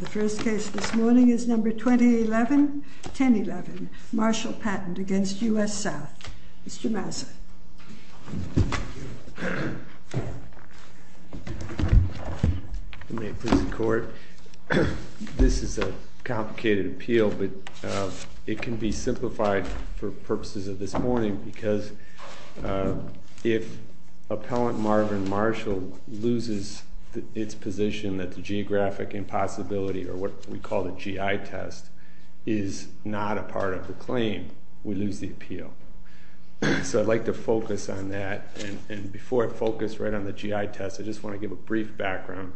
The first case this morning is number 2011-1011, Marshall Patent against U.S. South, Mr. Massa. May it please the Court, this is a complicated appeal but it can be simplified for purposes of this morning because if Appellant Marvin Marshall loses its position that the geographic impossibility or what we call the GI test is not a part of the claim, we lose the appeal. So I'd like to focus on that and before I focus right on the GI test, I just want to give a brief background.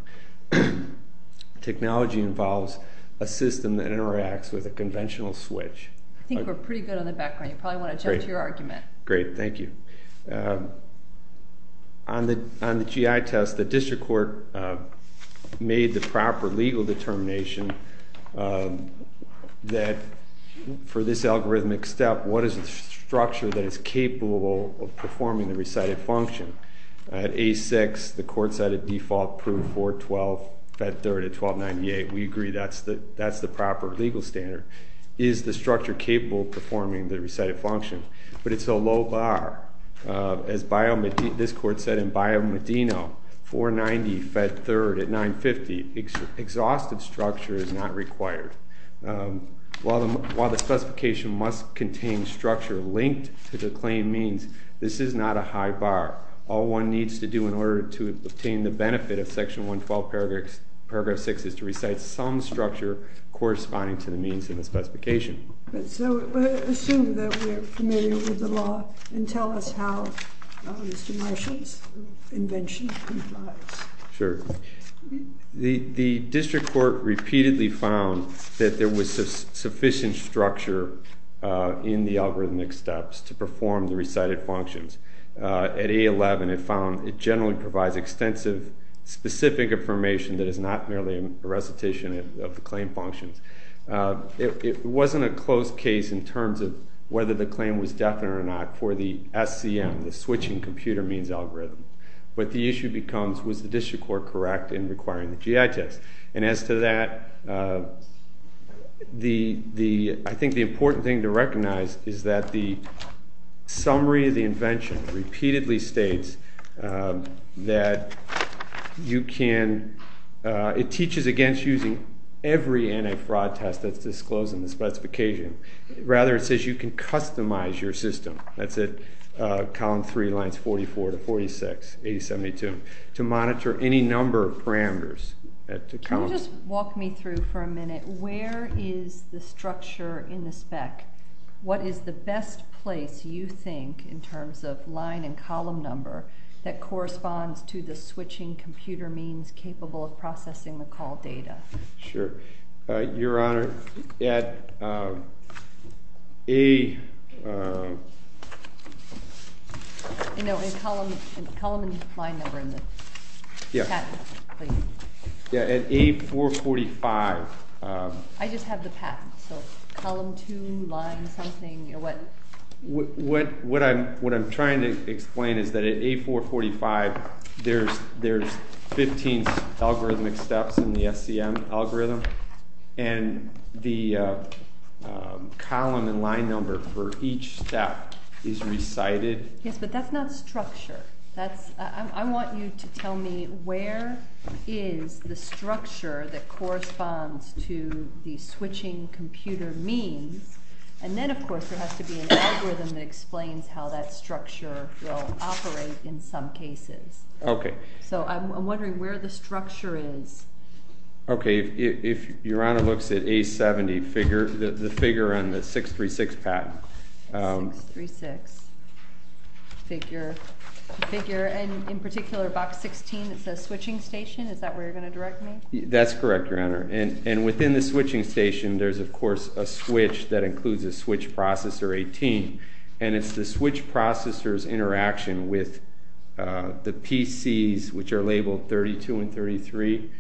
Technology involves a system that interacts with a conventional switch. I think we're pretty good on the background, you probably want to jump to your argument. Great. Thank you. On the GI test, the district court made the proper legal determination that for this algorithmic step, what is the structure that is capable of performing the recited function? At A6, the court cited default, proved 4-12, fed third at 1298. We agree that's the proper legal standard. Is the structure capable of performing the recited function? But it's a low bar. As this court said in Bio Medino, 490 fed third at 950, exhaustive structure is not required. While the specification must contain structure linked to the claim means, this is not a high bar. All one needs to do in order to obtain the benefit of section 112 paragraph 6 is to recite some structure corresponding to the means in the specification. Assume that we're familiar with the law and tell us how Mr. Marshall's invention complies. The district court repeatedly found that there was sufficient structure in the algorithmic steps to perform the recited functions. At A11, it found it generally provides extensive, specific information that is not merely a classification of the claim functions. It wasn't a close case in terms of whether the claim was definite or not for the SCM, the switching computer means algorithm. What the issue becomes was the district court correct in requiring the GI test? And as to that, I think the important thing to recognize is that the summary of the invention repeatedly states that it teaches against using every anti-fraud test that's disclosed in the specification. Rather, it says you can customize your system. That's at column 3, lines 44 to 46, 8072, to monitor any number of parameters. Can you just walk me through for a minute, where is the structure in the spec? What is the best place, you think, in terms of line and column number, that corresponds to the switching computer means capable of processing the call data? Sure. Your Honor, at A... No, in column and line number in the patent, please. At A445... I just have the patent. So, column 2, line something, or what? What I'm trying to explain is that at A445, there's 15 algorithmic steps in the SCM algorithm, and the column and line number for each step is recited. I want you to tell me where is the structure that corresponds to the switching computer means, and then, of course, there has to be an algorithm that explains how that structure will operate in some cases. Okay. So, I'm wondering where the structure is. Okay. If Your Honor looks at A70, the figure on the 636 patent... 636 figure, and in particular, box 16, it says switching station. Is that where you're going to direct me? That's correct, Your Honor. And within the switching station, there's, of course, a switch that includes a switch processor 18, and it's the switch processor's interaction with the PCs, which are labeled 32 and 33,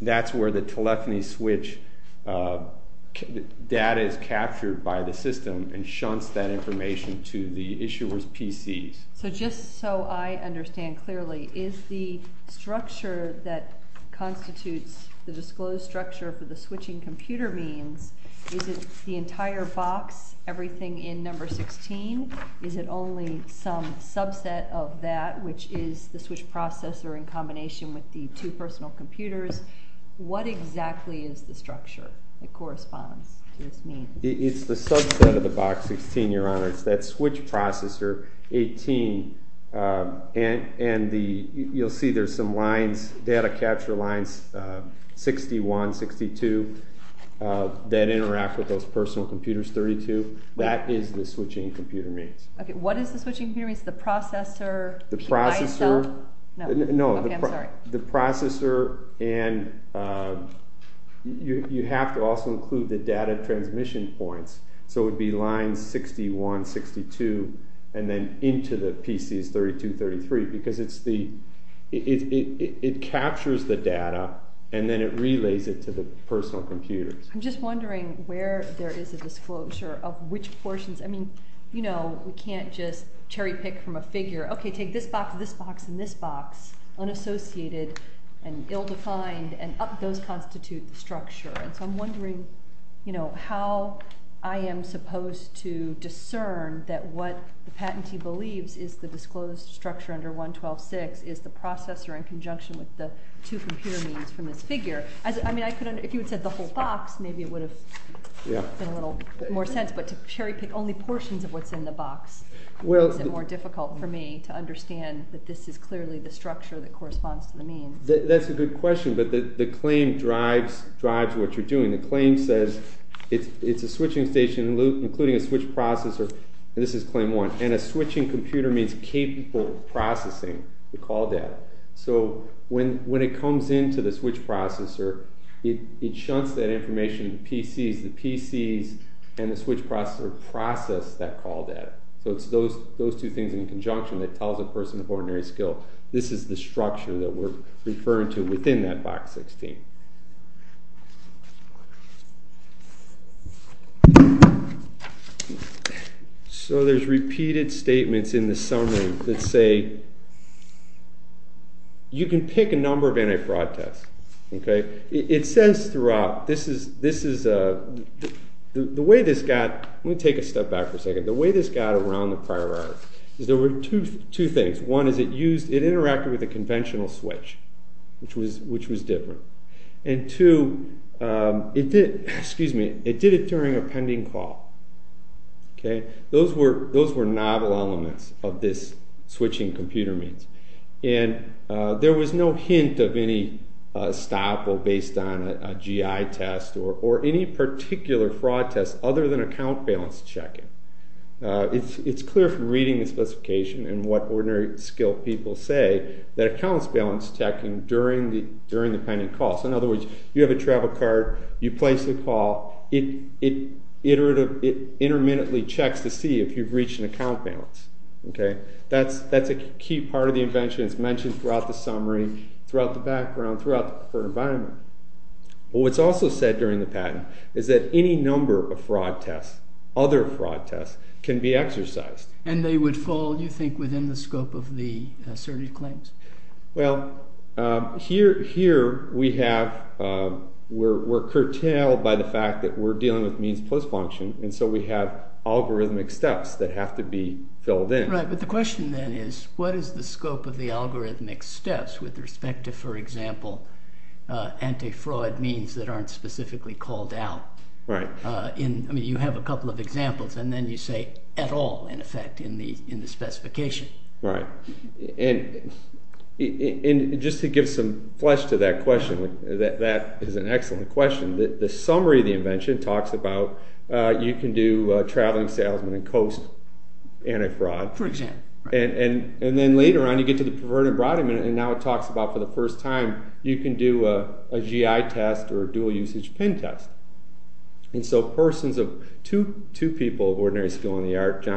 that's where the telephony switch data is captured by the system and shunts that information to the issuer's PCs. So, just so I understand clearly, is the structure that constitutes the disclosed structure for the switching computer means, is it the entire box, everything in number 16? Is it only some subset of that, which is the switch processor in combination with the two personal computers? What exactly is the structure that corresponds to this mean? It's the subset of the box 16, Your Honor. It's that switch processor, 18, and you'll see there's some lines, data capture lines, 61, 62, that interact with those personal computers, 32. That is the switching computer means. Okay, what is the switching computer means? The processor? The processor. No. Okay, I'm sorry. The processor, and you have to also include the data transmission points, so it would 61, 62, and then into the PCs 32, 33, because it captures the data and then it relays it to the personal computers. I'm just wondering where there is a disclosure of which portions, I mean, you know, we can't just cherry pick from a figure. Okay, take this box, this box, and this box, unassociated and ill-defined, and those constitute the structure. So I'm wondering, you know, how I am supposed to discern that what the patentee believes is the disclosed structure under 112.6 is the processor in conjunction with the two computer means from this figure. I mean, if you had said the whole box, maybe it would have made a little more sense, but to cherry pick only portions of what's in the box makes it more difficult for me to understand that this is clearly the structure that corresponds to the means. That's a good question, but the claim drives what you're doing. The claim says it's a switching station, including a switch processor, and this is claim one, and a switching computer means capable of processing the call data. So when it comes into the switch processor, it shunts that information, the PCs, and the switch processor process that call data. So it's those two things in conjunction that tells a person of ordinary skill. This is the structure that we're referring to within that box 16. So there's repeated statements in the summary that say, you can pick a number of anti-fraud tests. Okay? It says throughout, this is, the way this got, let me take a step back for a second. The way this got around the priority is there were two things. One is it used, it interacted with a conventional switch, which was different. And two, it did, excuse me, it did it during a pending call. Okay? Those were novel elements of this switching computer means. And there was no hint of any stop or based on a GI test or any particular fraud test other than account balance checking. It's clear from reading the specification and what ordinary skilled people say that accounts balance checking during the pending call. So in other words, you have a travel card, you place the call, it iteratively, it intermittently checks to see if you've reached an account balance. That's a key part of the invention. It's mentioned throughout the summary, throughout the background, throughout the preferred environment. What's also said during the patent is that any number of fraud tests, other fraud tests, can be exercised. And they would fall, you think, within the scope of the asserted claims? Well, here we have, we're curtailed by the fact that we're dealing with means plus function, and so we have algorithmic steps that have to be filled in. Right, but the question then is, what is the scope of the algorithmic steps with respect to, for example, anti-fraud means that aren't specifically called out? Right. I mean, you have a couple of examples, and then you say, at all, in effect, in the specification. Right. And just to give some flesh to that question, that is an excellent question. The summary of the invention talks about you can do traveling salesman and coast anti-fraud. For example. Right. And then later on, you get to the preferred environment, and now it talks about, for the first time, you can do a GI test or a dual-usage pen test. And so persons of, two people of ordinary skill in the art, Dale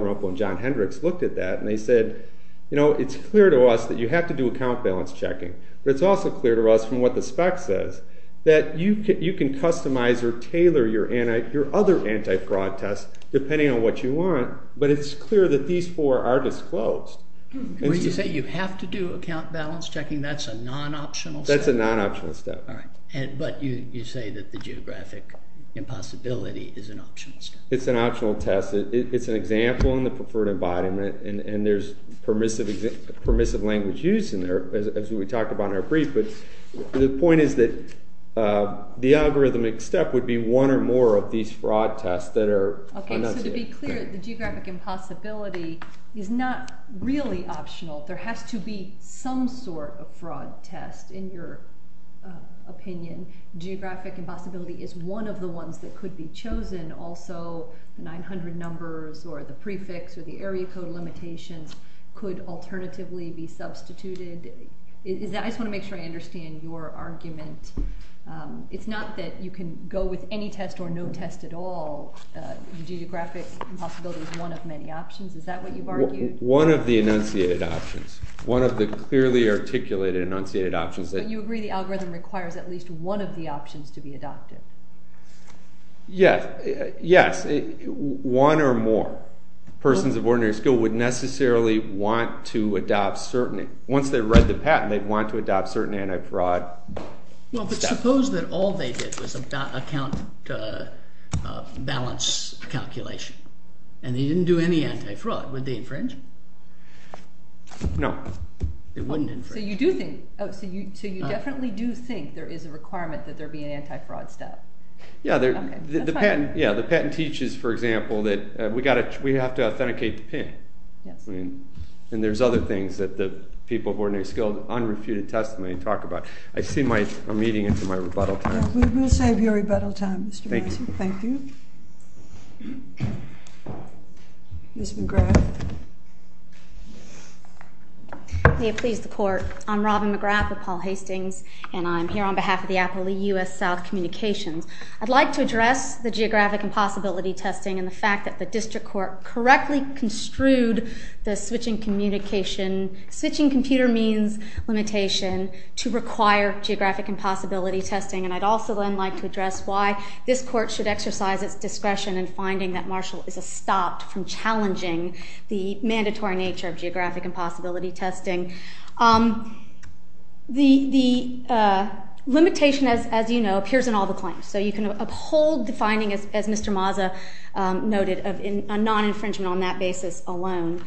Rumpel and John Hendricks, looked at that, and they said, you know, it's clear to us that you have to do account balance checking, but it's also clear to us, from what the spec says, that you can customize or tailor your other anti-fraud tests, depending on what you want, but it's clear that these four are disclosed. What did you say? You have to do account balance checking? That's a non-optional step? That's a non-optional step. All right. But you say that the geographic impossibility is an optional step. It's an optional test. It's an example in the preferred environment, and there's permissive language used in there, as we talked about in our brief, but the point is that the algorithmic step would be one or more of these fraud tests that are not there. Okay, so to be clear, the geographic impossibility is not really optional. There has to be some sort of fraud test, in your opinion. Geographic impossibility is one of the ones that could be chosen. Also, the 900 numbers or the prefix or the area code limitations could alternatively be substituted. I just want to make sure I understand your argument. It's not that you can go with any test or no test at all. The geographic impossibility is one of many options. Is that what you've argued? One of the enunciated options. One of the clearly articulated enunciated options. But you agree the algorithm requires at least one of the options to be adopted? Yes. Yes. One or more persons of ordinary skill would necessarily want to adopt certain. Once they read the patent, they'd want to adopt certain anti-fraud steps. Well, but suppose that all they did was account balance calculation, and they didn't do any anti-fraud. Would they infringe? No. They wouldn't infringe. So you definitely do think there is a requirement that there be an anti-fraud step? Yeah, the patent teaches, for example, that we have to authenticate the PIN. And there's other things that the people of ordinary skill, unrefuted testimony, talk about. I see my meeting into my rebuttal time. We'll save your rebuttal time, Mr. Massey. Thank you. Thank you. Ms. McGrath. May it please the Court. I'm Robin McGrath with Paul Hastings, and I'm here on behalf of the Appellee U.S. South Communications. I'd like to address the geographic impossibility testing and the fact that the district court correctly construed the switching communication, switching computer means limitation to require geographic impossibility testing. And I'd also then like to address why this court should exercise its discretion in finding that Marshall is a stop from challenging the mandatory nature of geographic impossibility testing. The limitation, as you know, appears in all the claims. So you can uphold the finding, as Mr. Mazza noted, of non-infringement on that basis alone.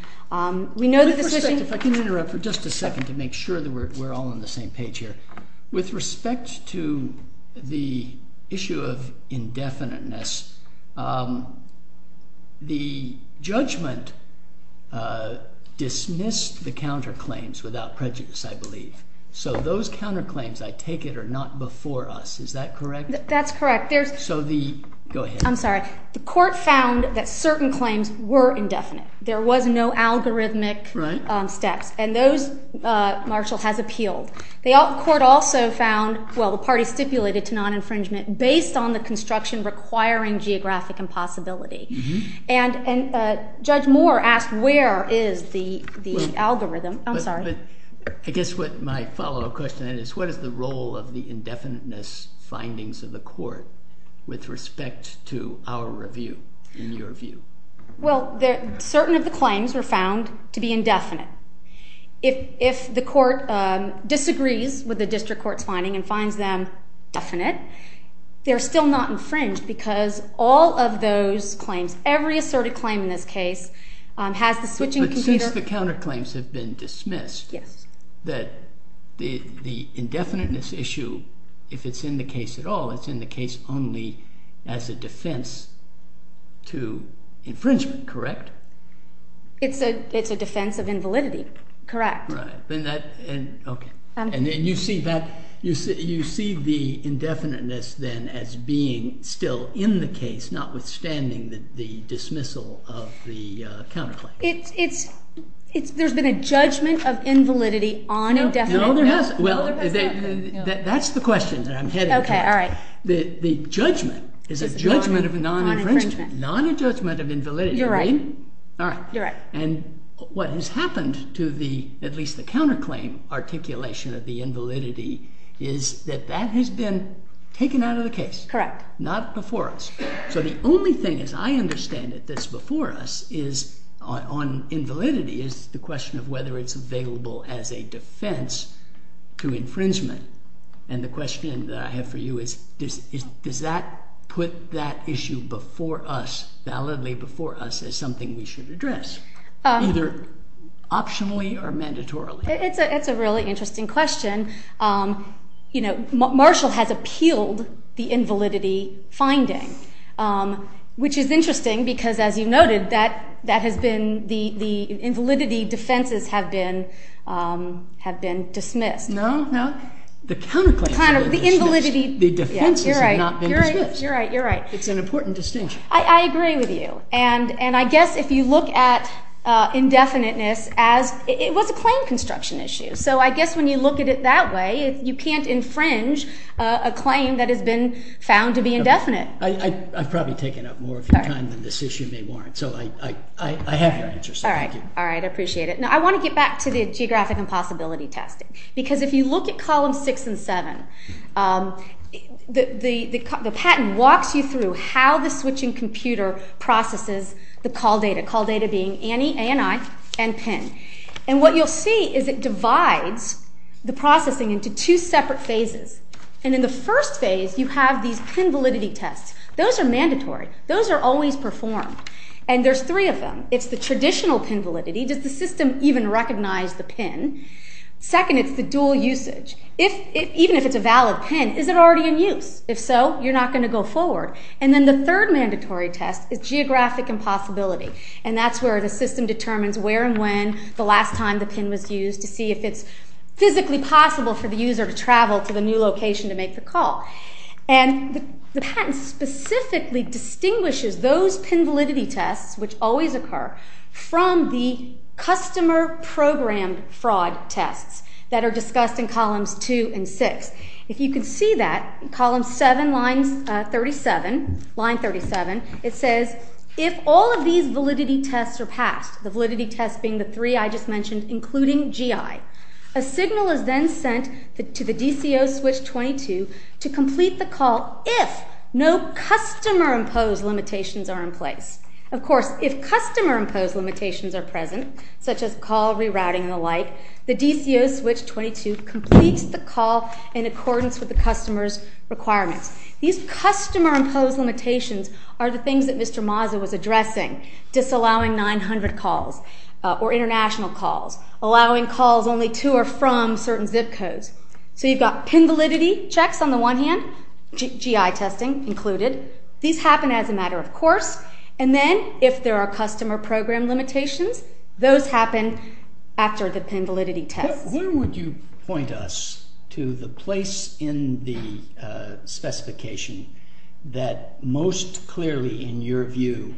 We know that the switching- If I can interrupt for just a second to make sure that we're all on the same page here. With respect to the issue of indefiniteness, the judgment dismissed the counterclaims without prejudice, I believe. So those counterclaims, I take it, are not before us. Is that correct? That's correct. So the- Go ahead. I'm sorry. The court found that certain claims were indefinite. There was no algorithmic steps, and those Marshall has appealed. The court also found, well, the party stipulated to non-infringement based on the construction requiring geographic impossibility. And Judge Moore asked where is the algorithm. I'm sorry. Yeah, but I guess what my follow-up question is, what is the role of the indefiniteness findings of the court with respect to our review, in your view? Well, certain of the claims were found to be indefinite. If the court disagrees with the district court's finding and finds them definite, they're still not infringed because all of those claims, every asserted claim in this case, has the switching computer- Yes. That the indefiniteness issue, if it's in the case at all, it's in the case only as a defense to infringement, correct? It's a defense of invalidity, correct. Right. Okay. And you see the indefiniteness then as being still in the case, notwithstanding the dismissal of the counterclaim. There's been a judgment of invalidity on indefiniteness. No, there hasn't. Well, that's the question that I'm heading towards. Okay, all right. The judgment is a judgment of non-infringement. Non-infringement. Not a judgment of invalidity. You're right. All right. You're right. And what has happened to the, at least the counterclaim articulation of the invalidity, is that that has been taken out of the case. Correct. Not before us. So the only thing, as I understand it, that's before us on invalidity is the question of whether it's available as a defense to infringement. And the question that I have for you is does that put that issue before us, validly before us, as something we should address, either optionally or mandatorily? It's a really interesting question. You know, Marshall has appealed the invalidity finding, which is interesting because, as you noted, that has been, the invalidity defenses have been dismissed. No, no. The counterclaims have been dismissed. The invalidity. The defenses have not been dismissed. You're right. You're right. It's an important distinction. I agree with you. And I guess if you look at indefiniteness as, it was a claim construction issue. So I guess when you look at it that way, you can't infringe a claim that has been found to be indefinite. I've probably taken up more of your time than this issue may warrant. So I have your answer. So thank you. All right. I appreciate it. Now, I want to get back to the geographic impossibility test. Because if you look at columns 6 and 7, the patent walks you through how the switching computer processes the call data, call data being ANI and PIN. And what you'll see is it divides the processing into two separate phases. And in the first phase, you have these PIN validity tests. Those are mandatory. Those are always performed. And there's three of them. It's the traditional PIN validity. Does the system even recognize the PIN? Second, it's the dual usage. Even if it's a valid PIN, is it already in use? If so, you're not going to go forward. And then the third mandatory test is geographic impossibility. And that's where the system determines where and when the last time the PIN was used to see if it's physically possible for the user to travel to the new location to make the call. And the patent specifically distinguishes those PIN validity tests, which always occur, from the customer-programmed fraud tests that are discussed in columns 2 and 6. If you can see that, column 7, line 37, it says, if all of these validity tests are passed, the validity tests being the three I just mentioned, including GI, a signal is then sent to the DCO switch 22 to complete the call if no customer-imposed limitations are in place. Of course, if customer-imposed limitations are present, such as call rerouting and the like, the DCO switch 22 completes the call in accordance with the customer's requirements. These customer-imposed limitations are the things that Mr. Mazza was addressing, disallowing 900 calls or international calls, allowing calls only to or from certain zip codes. So you've got PIN validity checks on the one hand, GI testing included. These happen as a matter of course. And then if there are customer-programmed limitations, those happen after the PIN validity test. Where would you point us to the place in the specification that most clearly, in your view,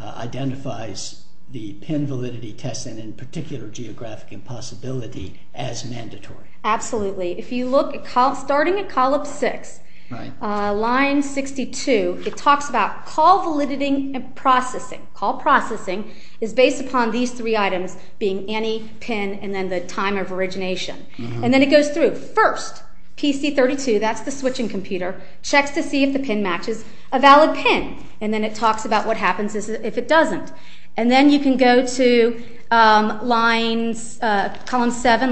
identifies the PIN validity test, and in particular geographic impossibility, as mandatory? Absolutely. If you look at starting at column 6, line 62, it talks about call validating and processing. Call processing is based upon these three items being any PIN and then the time of origination. And then it goes through. First, PC 32, that's the switching computer, checks to see if the PIN matches a valid PIN. And then it talks about what happens if it doesn't. And then you can go to column 7,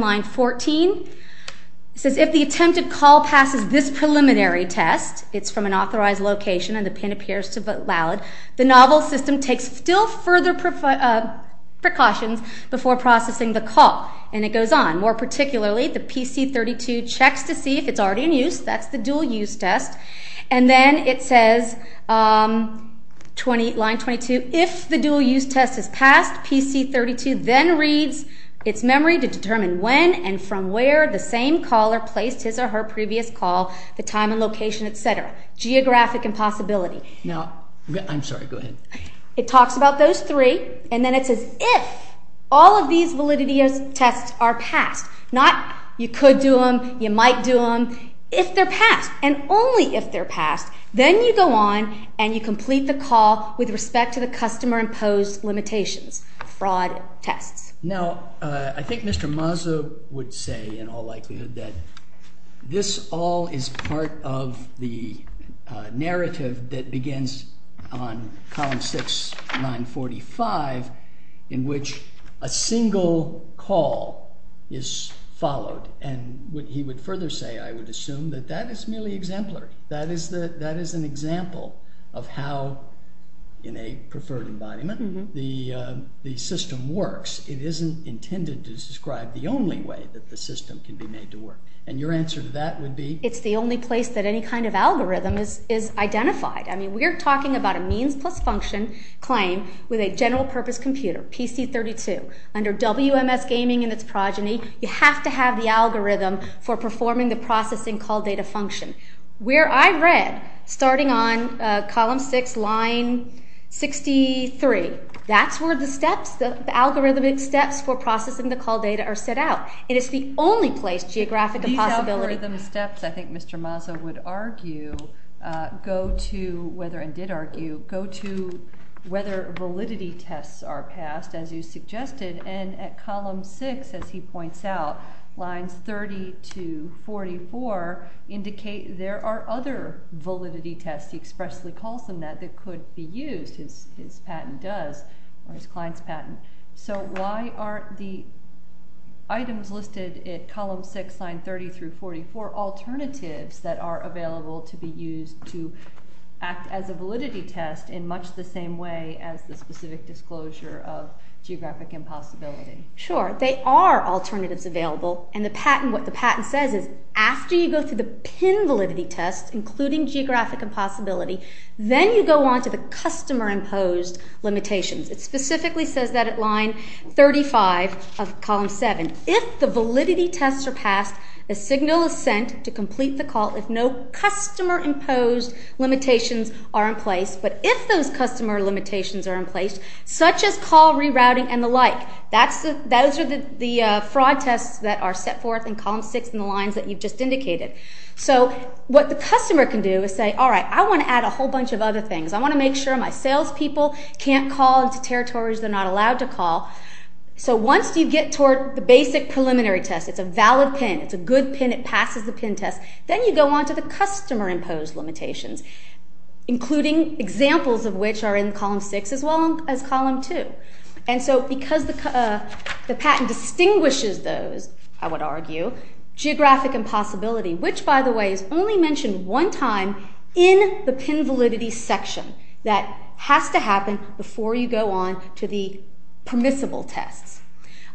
line 14. It says if the attempted call passes this preliminary test, it's from an authorized location and the PIN appears to be valid, the novel system takes still further precautions before processing the call. And it goes on. More particularly, the PC 32 checks to see if it's already in use. That's the dual-use test. And then it says, line 22, if the dual-use test is passed, PC 32 then reads its memory to determine when and from where the same caller placed his or her previous call, the time and location, et cetera. Geographic impossibility. Now, I'm sorry. Go ahead. It talks about those three. And then it says if all of these validity tests are passed, not you could do them, you might do them, if they're passed and only if they're passed, then you go on and you complete the call with respect to the customer-imposed limitations, fraud tests. Now, I think Mr. Mazza would say in all likelihood that this all is part of the narrative that begins on column 6, 945, in which a single call is followed. And he would further say, I would assume, that that is merely exemplary. That is an example of how, in a preferred environment, the system works. It isn't intended to describe the only way that the system can be made to work. And your answer to that would be? It's the only place that any kind of algorithm is identified. I mean, we're talking about a means plus function claim with a general-purpose computer, PC 32. Under WMS Gaming and its progeny, you have to have the algorithm for performing the processing call data function. Where I read, starting on column 6, line 63, that's where the steps, the algorithmic steps for processing the call data are set out. It is the only place geographic possibility. The algorithmic steps, I think Mr. Mazza would argue, go to whether, and did argue, go to whether validity tests are passed, as you suggested. And at column 6, as he points out, lines 30 to 44 indicate there are other validity tests, he expressly calls them that, that could be used, his patent does, or his client's patent. So why aren't the items listed at column 6, line 30 through 44 alternatives that are available to be used to act as a validity test in much the same way as the specific disclosure of geographic impossibility? Sure. They are alternatives available. And the patent, what the patent says is after you go through the pin validity test, including geographic impossibility, then you go on to the customer-imposed limitations. It specifically says that at line 35 of column 7. If the validity tests are passed, a signal is sent to complete the call if no customer-imposed limitations are in place. But if those customer limitations are in place, such as call rerouting and the like, those are the fraud tests that are set forth in column 6 in the lines that you've just indicated. So what the customer can do is say, all right, I want to add a whole bunch of other things. I want to make sure my salespeople can't call into territories they're not allowed to call. So once you get toward the basic preliminary test, it's a valid pin, it's a good pin, it passes the pin test, then you go on to the customer-imposed limitations, including examples of which are in column 6 as well as column 2. And so because the patent distinguishes those, I would argue, geographic impossibility, which, by the way, is only mentioned one time in the pin validity section. That has to happen before you go on to the permissible tests.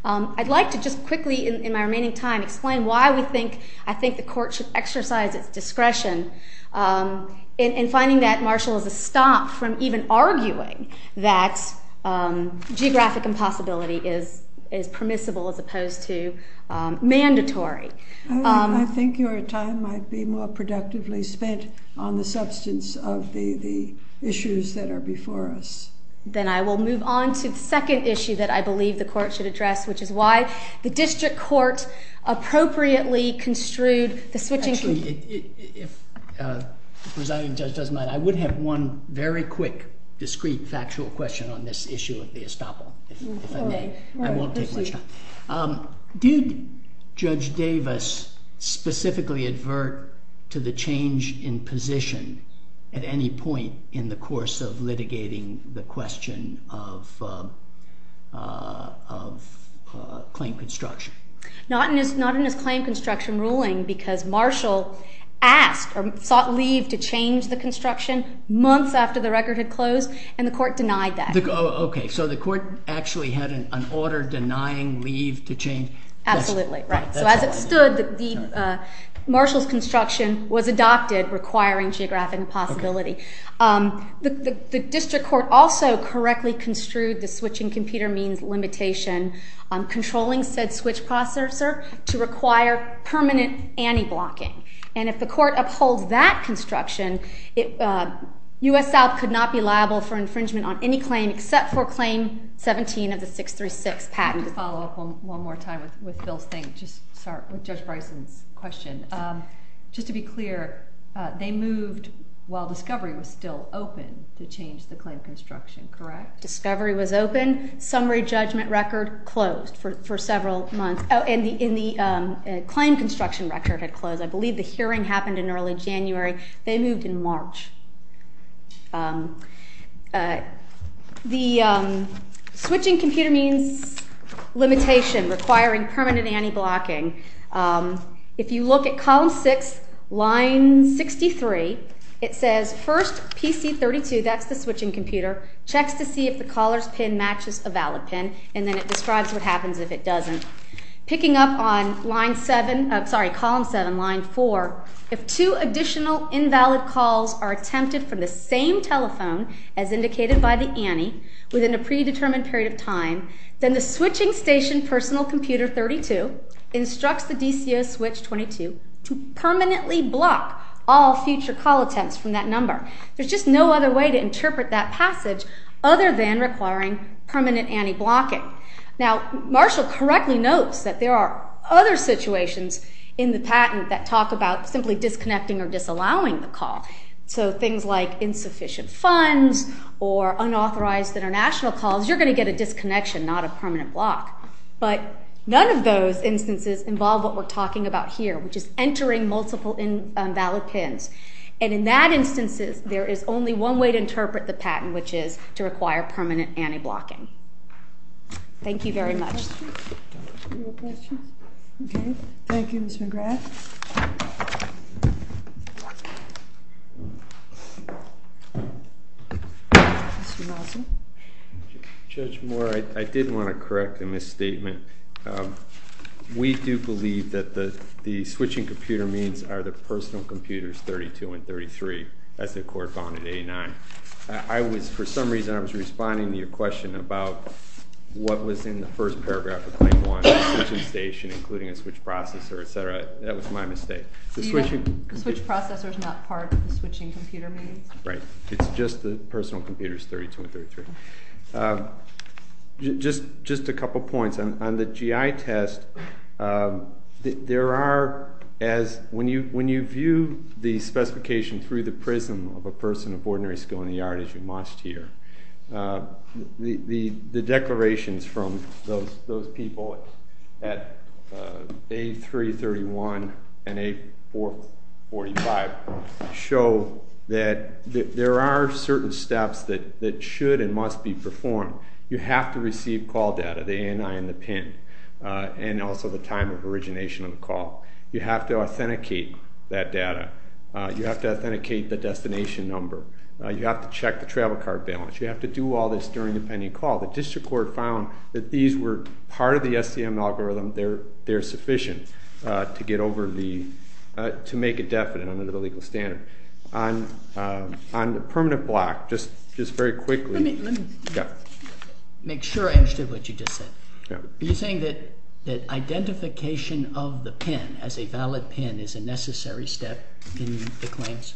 I'd like to just quickly, in my remaining time, explain why I think the court should exercise its discretion in finding that Marshall is a stop from even arguing that geographic impossibility is permissible as opposed to mandatory. I think your time might be more productively spent on the substance of the issues that are before us. Then I will move on to the second issue that I believe the court should address, which is why the district court appropriately construed the switching... Actually, if Presiding Judge doesn't mind, I would have one very quick, discreet, factual question on this issue of the estoppel, if I may. I won't take much time. Did Judge Davis specifically advert to the change in position at any point in the course of litigating the question of claim construction? Not in his claim construction ruling because Marshall asked or sought leave to change the construction months after the record had closed, and the court denied that. Okay, so the court actually had an order denying leave to change. Absolutely, right. So as it stood, Marshall's construction was adopted requiring geographic impossibility. The district court also correctly construed the switching computer means limitation controlling said switch processor to require permanent anti-blocking. And if the court upholds that construction, U.S. South could not be liable for infringement on any claim except for Claim 17 of the 636 patent. Just to follow up one more time with Bill's thing, just start with Judge Bryson's question. Just to be clear, they moved while Discovery was still open to change the claim construction, correct? Discovery was open. Summary judgment record closed for several months. Oh, and the claim construction record had closed. I believe the hearing happened in early January. They moved in March. The switching computer means limitation requiring permanent anti-blocking. If you look at Column 6, Line 63, it says first PC-32, that's the switching computer, checks to see if the caller's pin matches a valid pin, and then it describes what happens if it doesn't. Picking up on Line 7, sorry, Column 7, Line 4, if two additional invalid calls are attempted from the same telephone as indicated by the ante within a predetermined period of time, then the switching station personal computer 32 instructs the DCS switch 22 to permanently block all future call attempts from that number. There's just no other way to interpret that passage other than requiring permanent anti-blocking. Now, Marshall correctly notes that there are other situations in the patent that talk about simply disconnecting or disallowing the call. So things like insufficient funds or unauthorized international calls, you're going to get a disconnection, not a permanent block. But none of those instances involve what we're talking about here, which is entering multiple invalid pins. And in that instances, there is only one way to interpret the patent, which is to require permanent anti-blocking. Thank you very much. No questions? OK. Thank you, Mr. McGrath. Judge Moore, I did want to correct a misstatement. We do believe that the switching computer means are the personal computers 32 and 33, as the court found in A9. For some reason, I was responding to your question about what was in the first paragraph of Claim 1, the switching station, including a switch processor, et cetera. That was my mistake. The switch processor is not part of the switching computer means? Right. It's just the personal computers 32 and 33. Just a couple points. On the GI test, there are, as when you view the specification through the prism of a person of ordinary skill in the art, as you must here, the declarations from those people at A331 and A445 show that there are certain steps that should and must be performed. You have to receive call data, the ANI and the PIN, and also the time of origination of the call. You have to authenticate that data. You have to authenticate the destination number. You have to check the travel card balance. You have to do all this during the pending call. The district court found that these were part of the SCM algorithm. They're sufficient to get over the—to make a definite under the legal standard. On the permanent block, just very quickly— Let me make sure I understood what you just said. Are you saying that identification of the PIN as a valid PIN is a necessary step in the claims?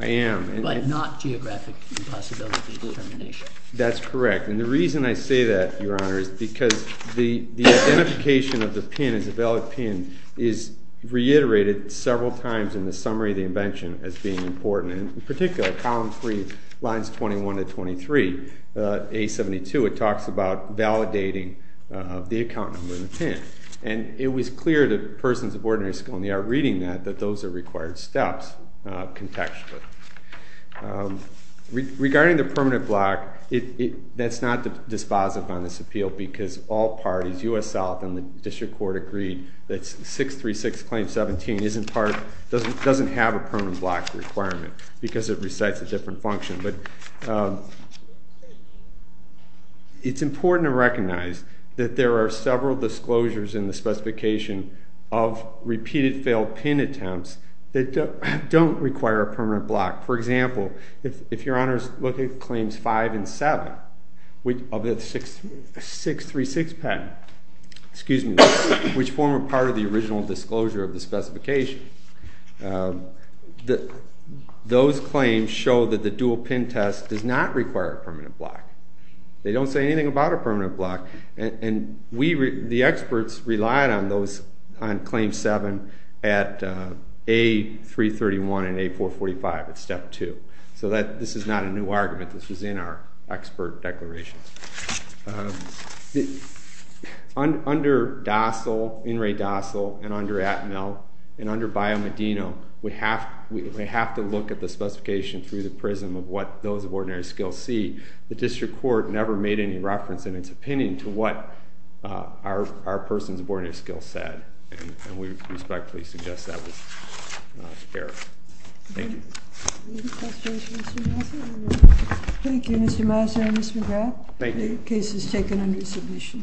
I am. But not geographic impossibility determination. That's correct. And the reason I say that, Your Honor, is because the identification of the PIN as a valid PIN is reiterated several times in the summary of the invention as being important. In particular, column three, lines 21 to 23, A72, it talks about validating the account number in the PIN. And it was clear to persons of ordinary skill and the art reading that that those are required steps contextually. Regarding the permanent block, that's not dispositive on this appeal because all parties— U.S. South and the district court agreed that 636 claim 17 isn't part—doesn't have a permanent block requirement because it recites a different function. But it's important to recognize that there are several disclosures in the specification of repeated failed PIN attempts that don't require a permanent block. For example, if Your Honor is looking at claims 5 and 7 of the 636 patent, which form a part of the original disclosure of the specification, those claims show that the dual PIN test does not require a permanent block. They don't say anything about a permanent block. And the experts relied on those—on claim 7 at A331 and A445 at step 2. So this is not a new argument. This was in our expert declarations. Under Dossal, In re Dossal, and under Atmel, and under Bio Medino, we have to look at the specification through the prism of what those of ordinary skill see. The district court never made any reference, in its opinion, to what our persons of ordinary skill said. And we respectfully suggest that was erroneous. Thank you. Thank you, Mr. Mouser and Ms. McGrath. Thank you. The case is taken under submission.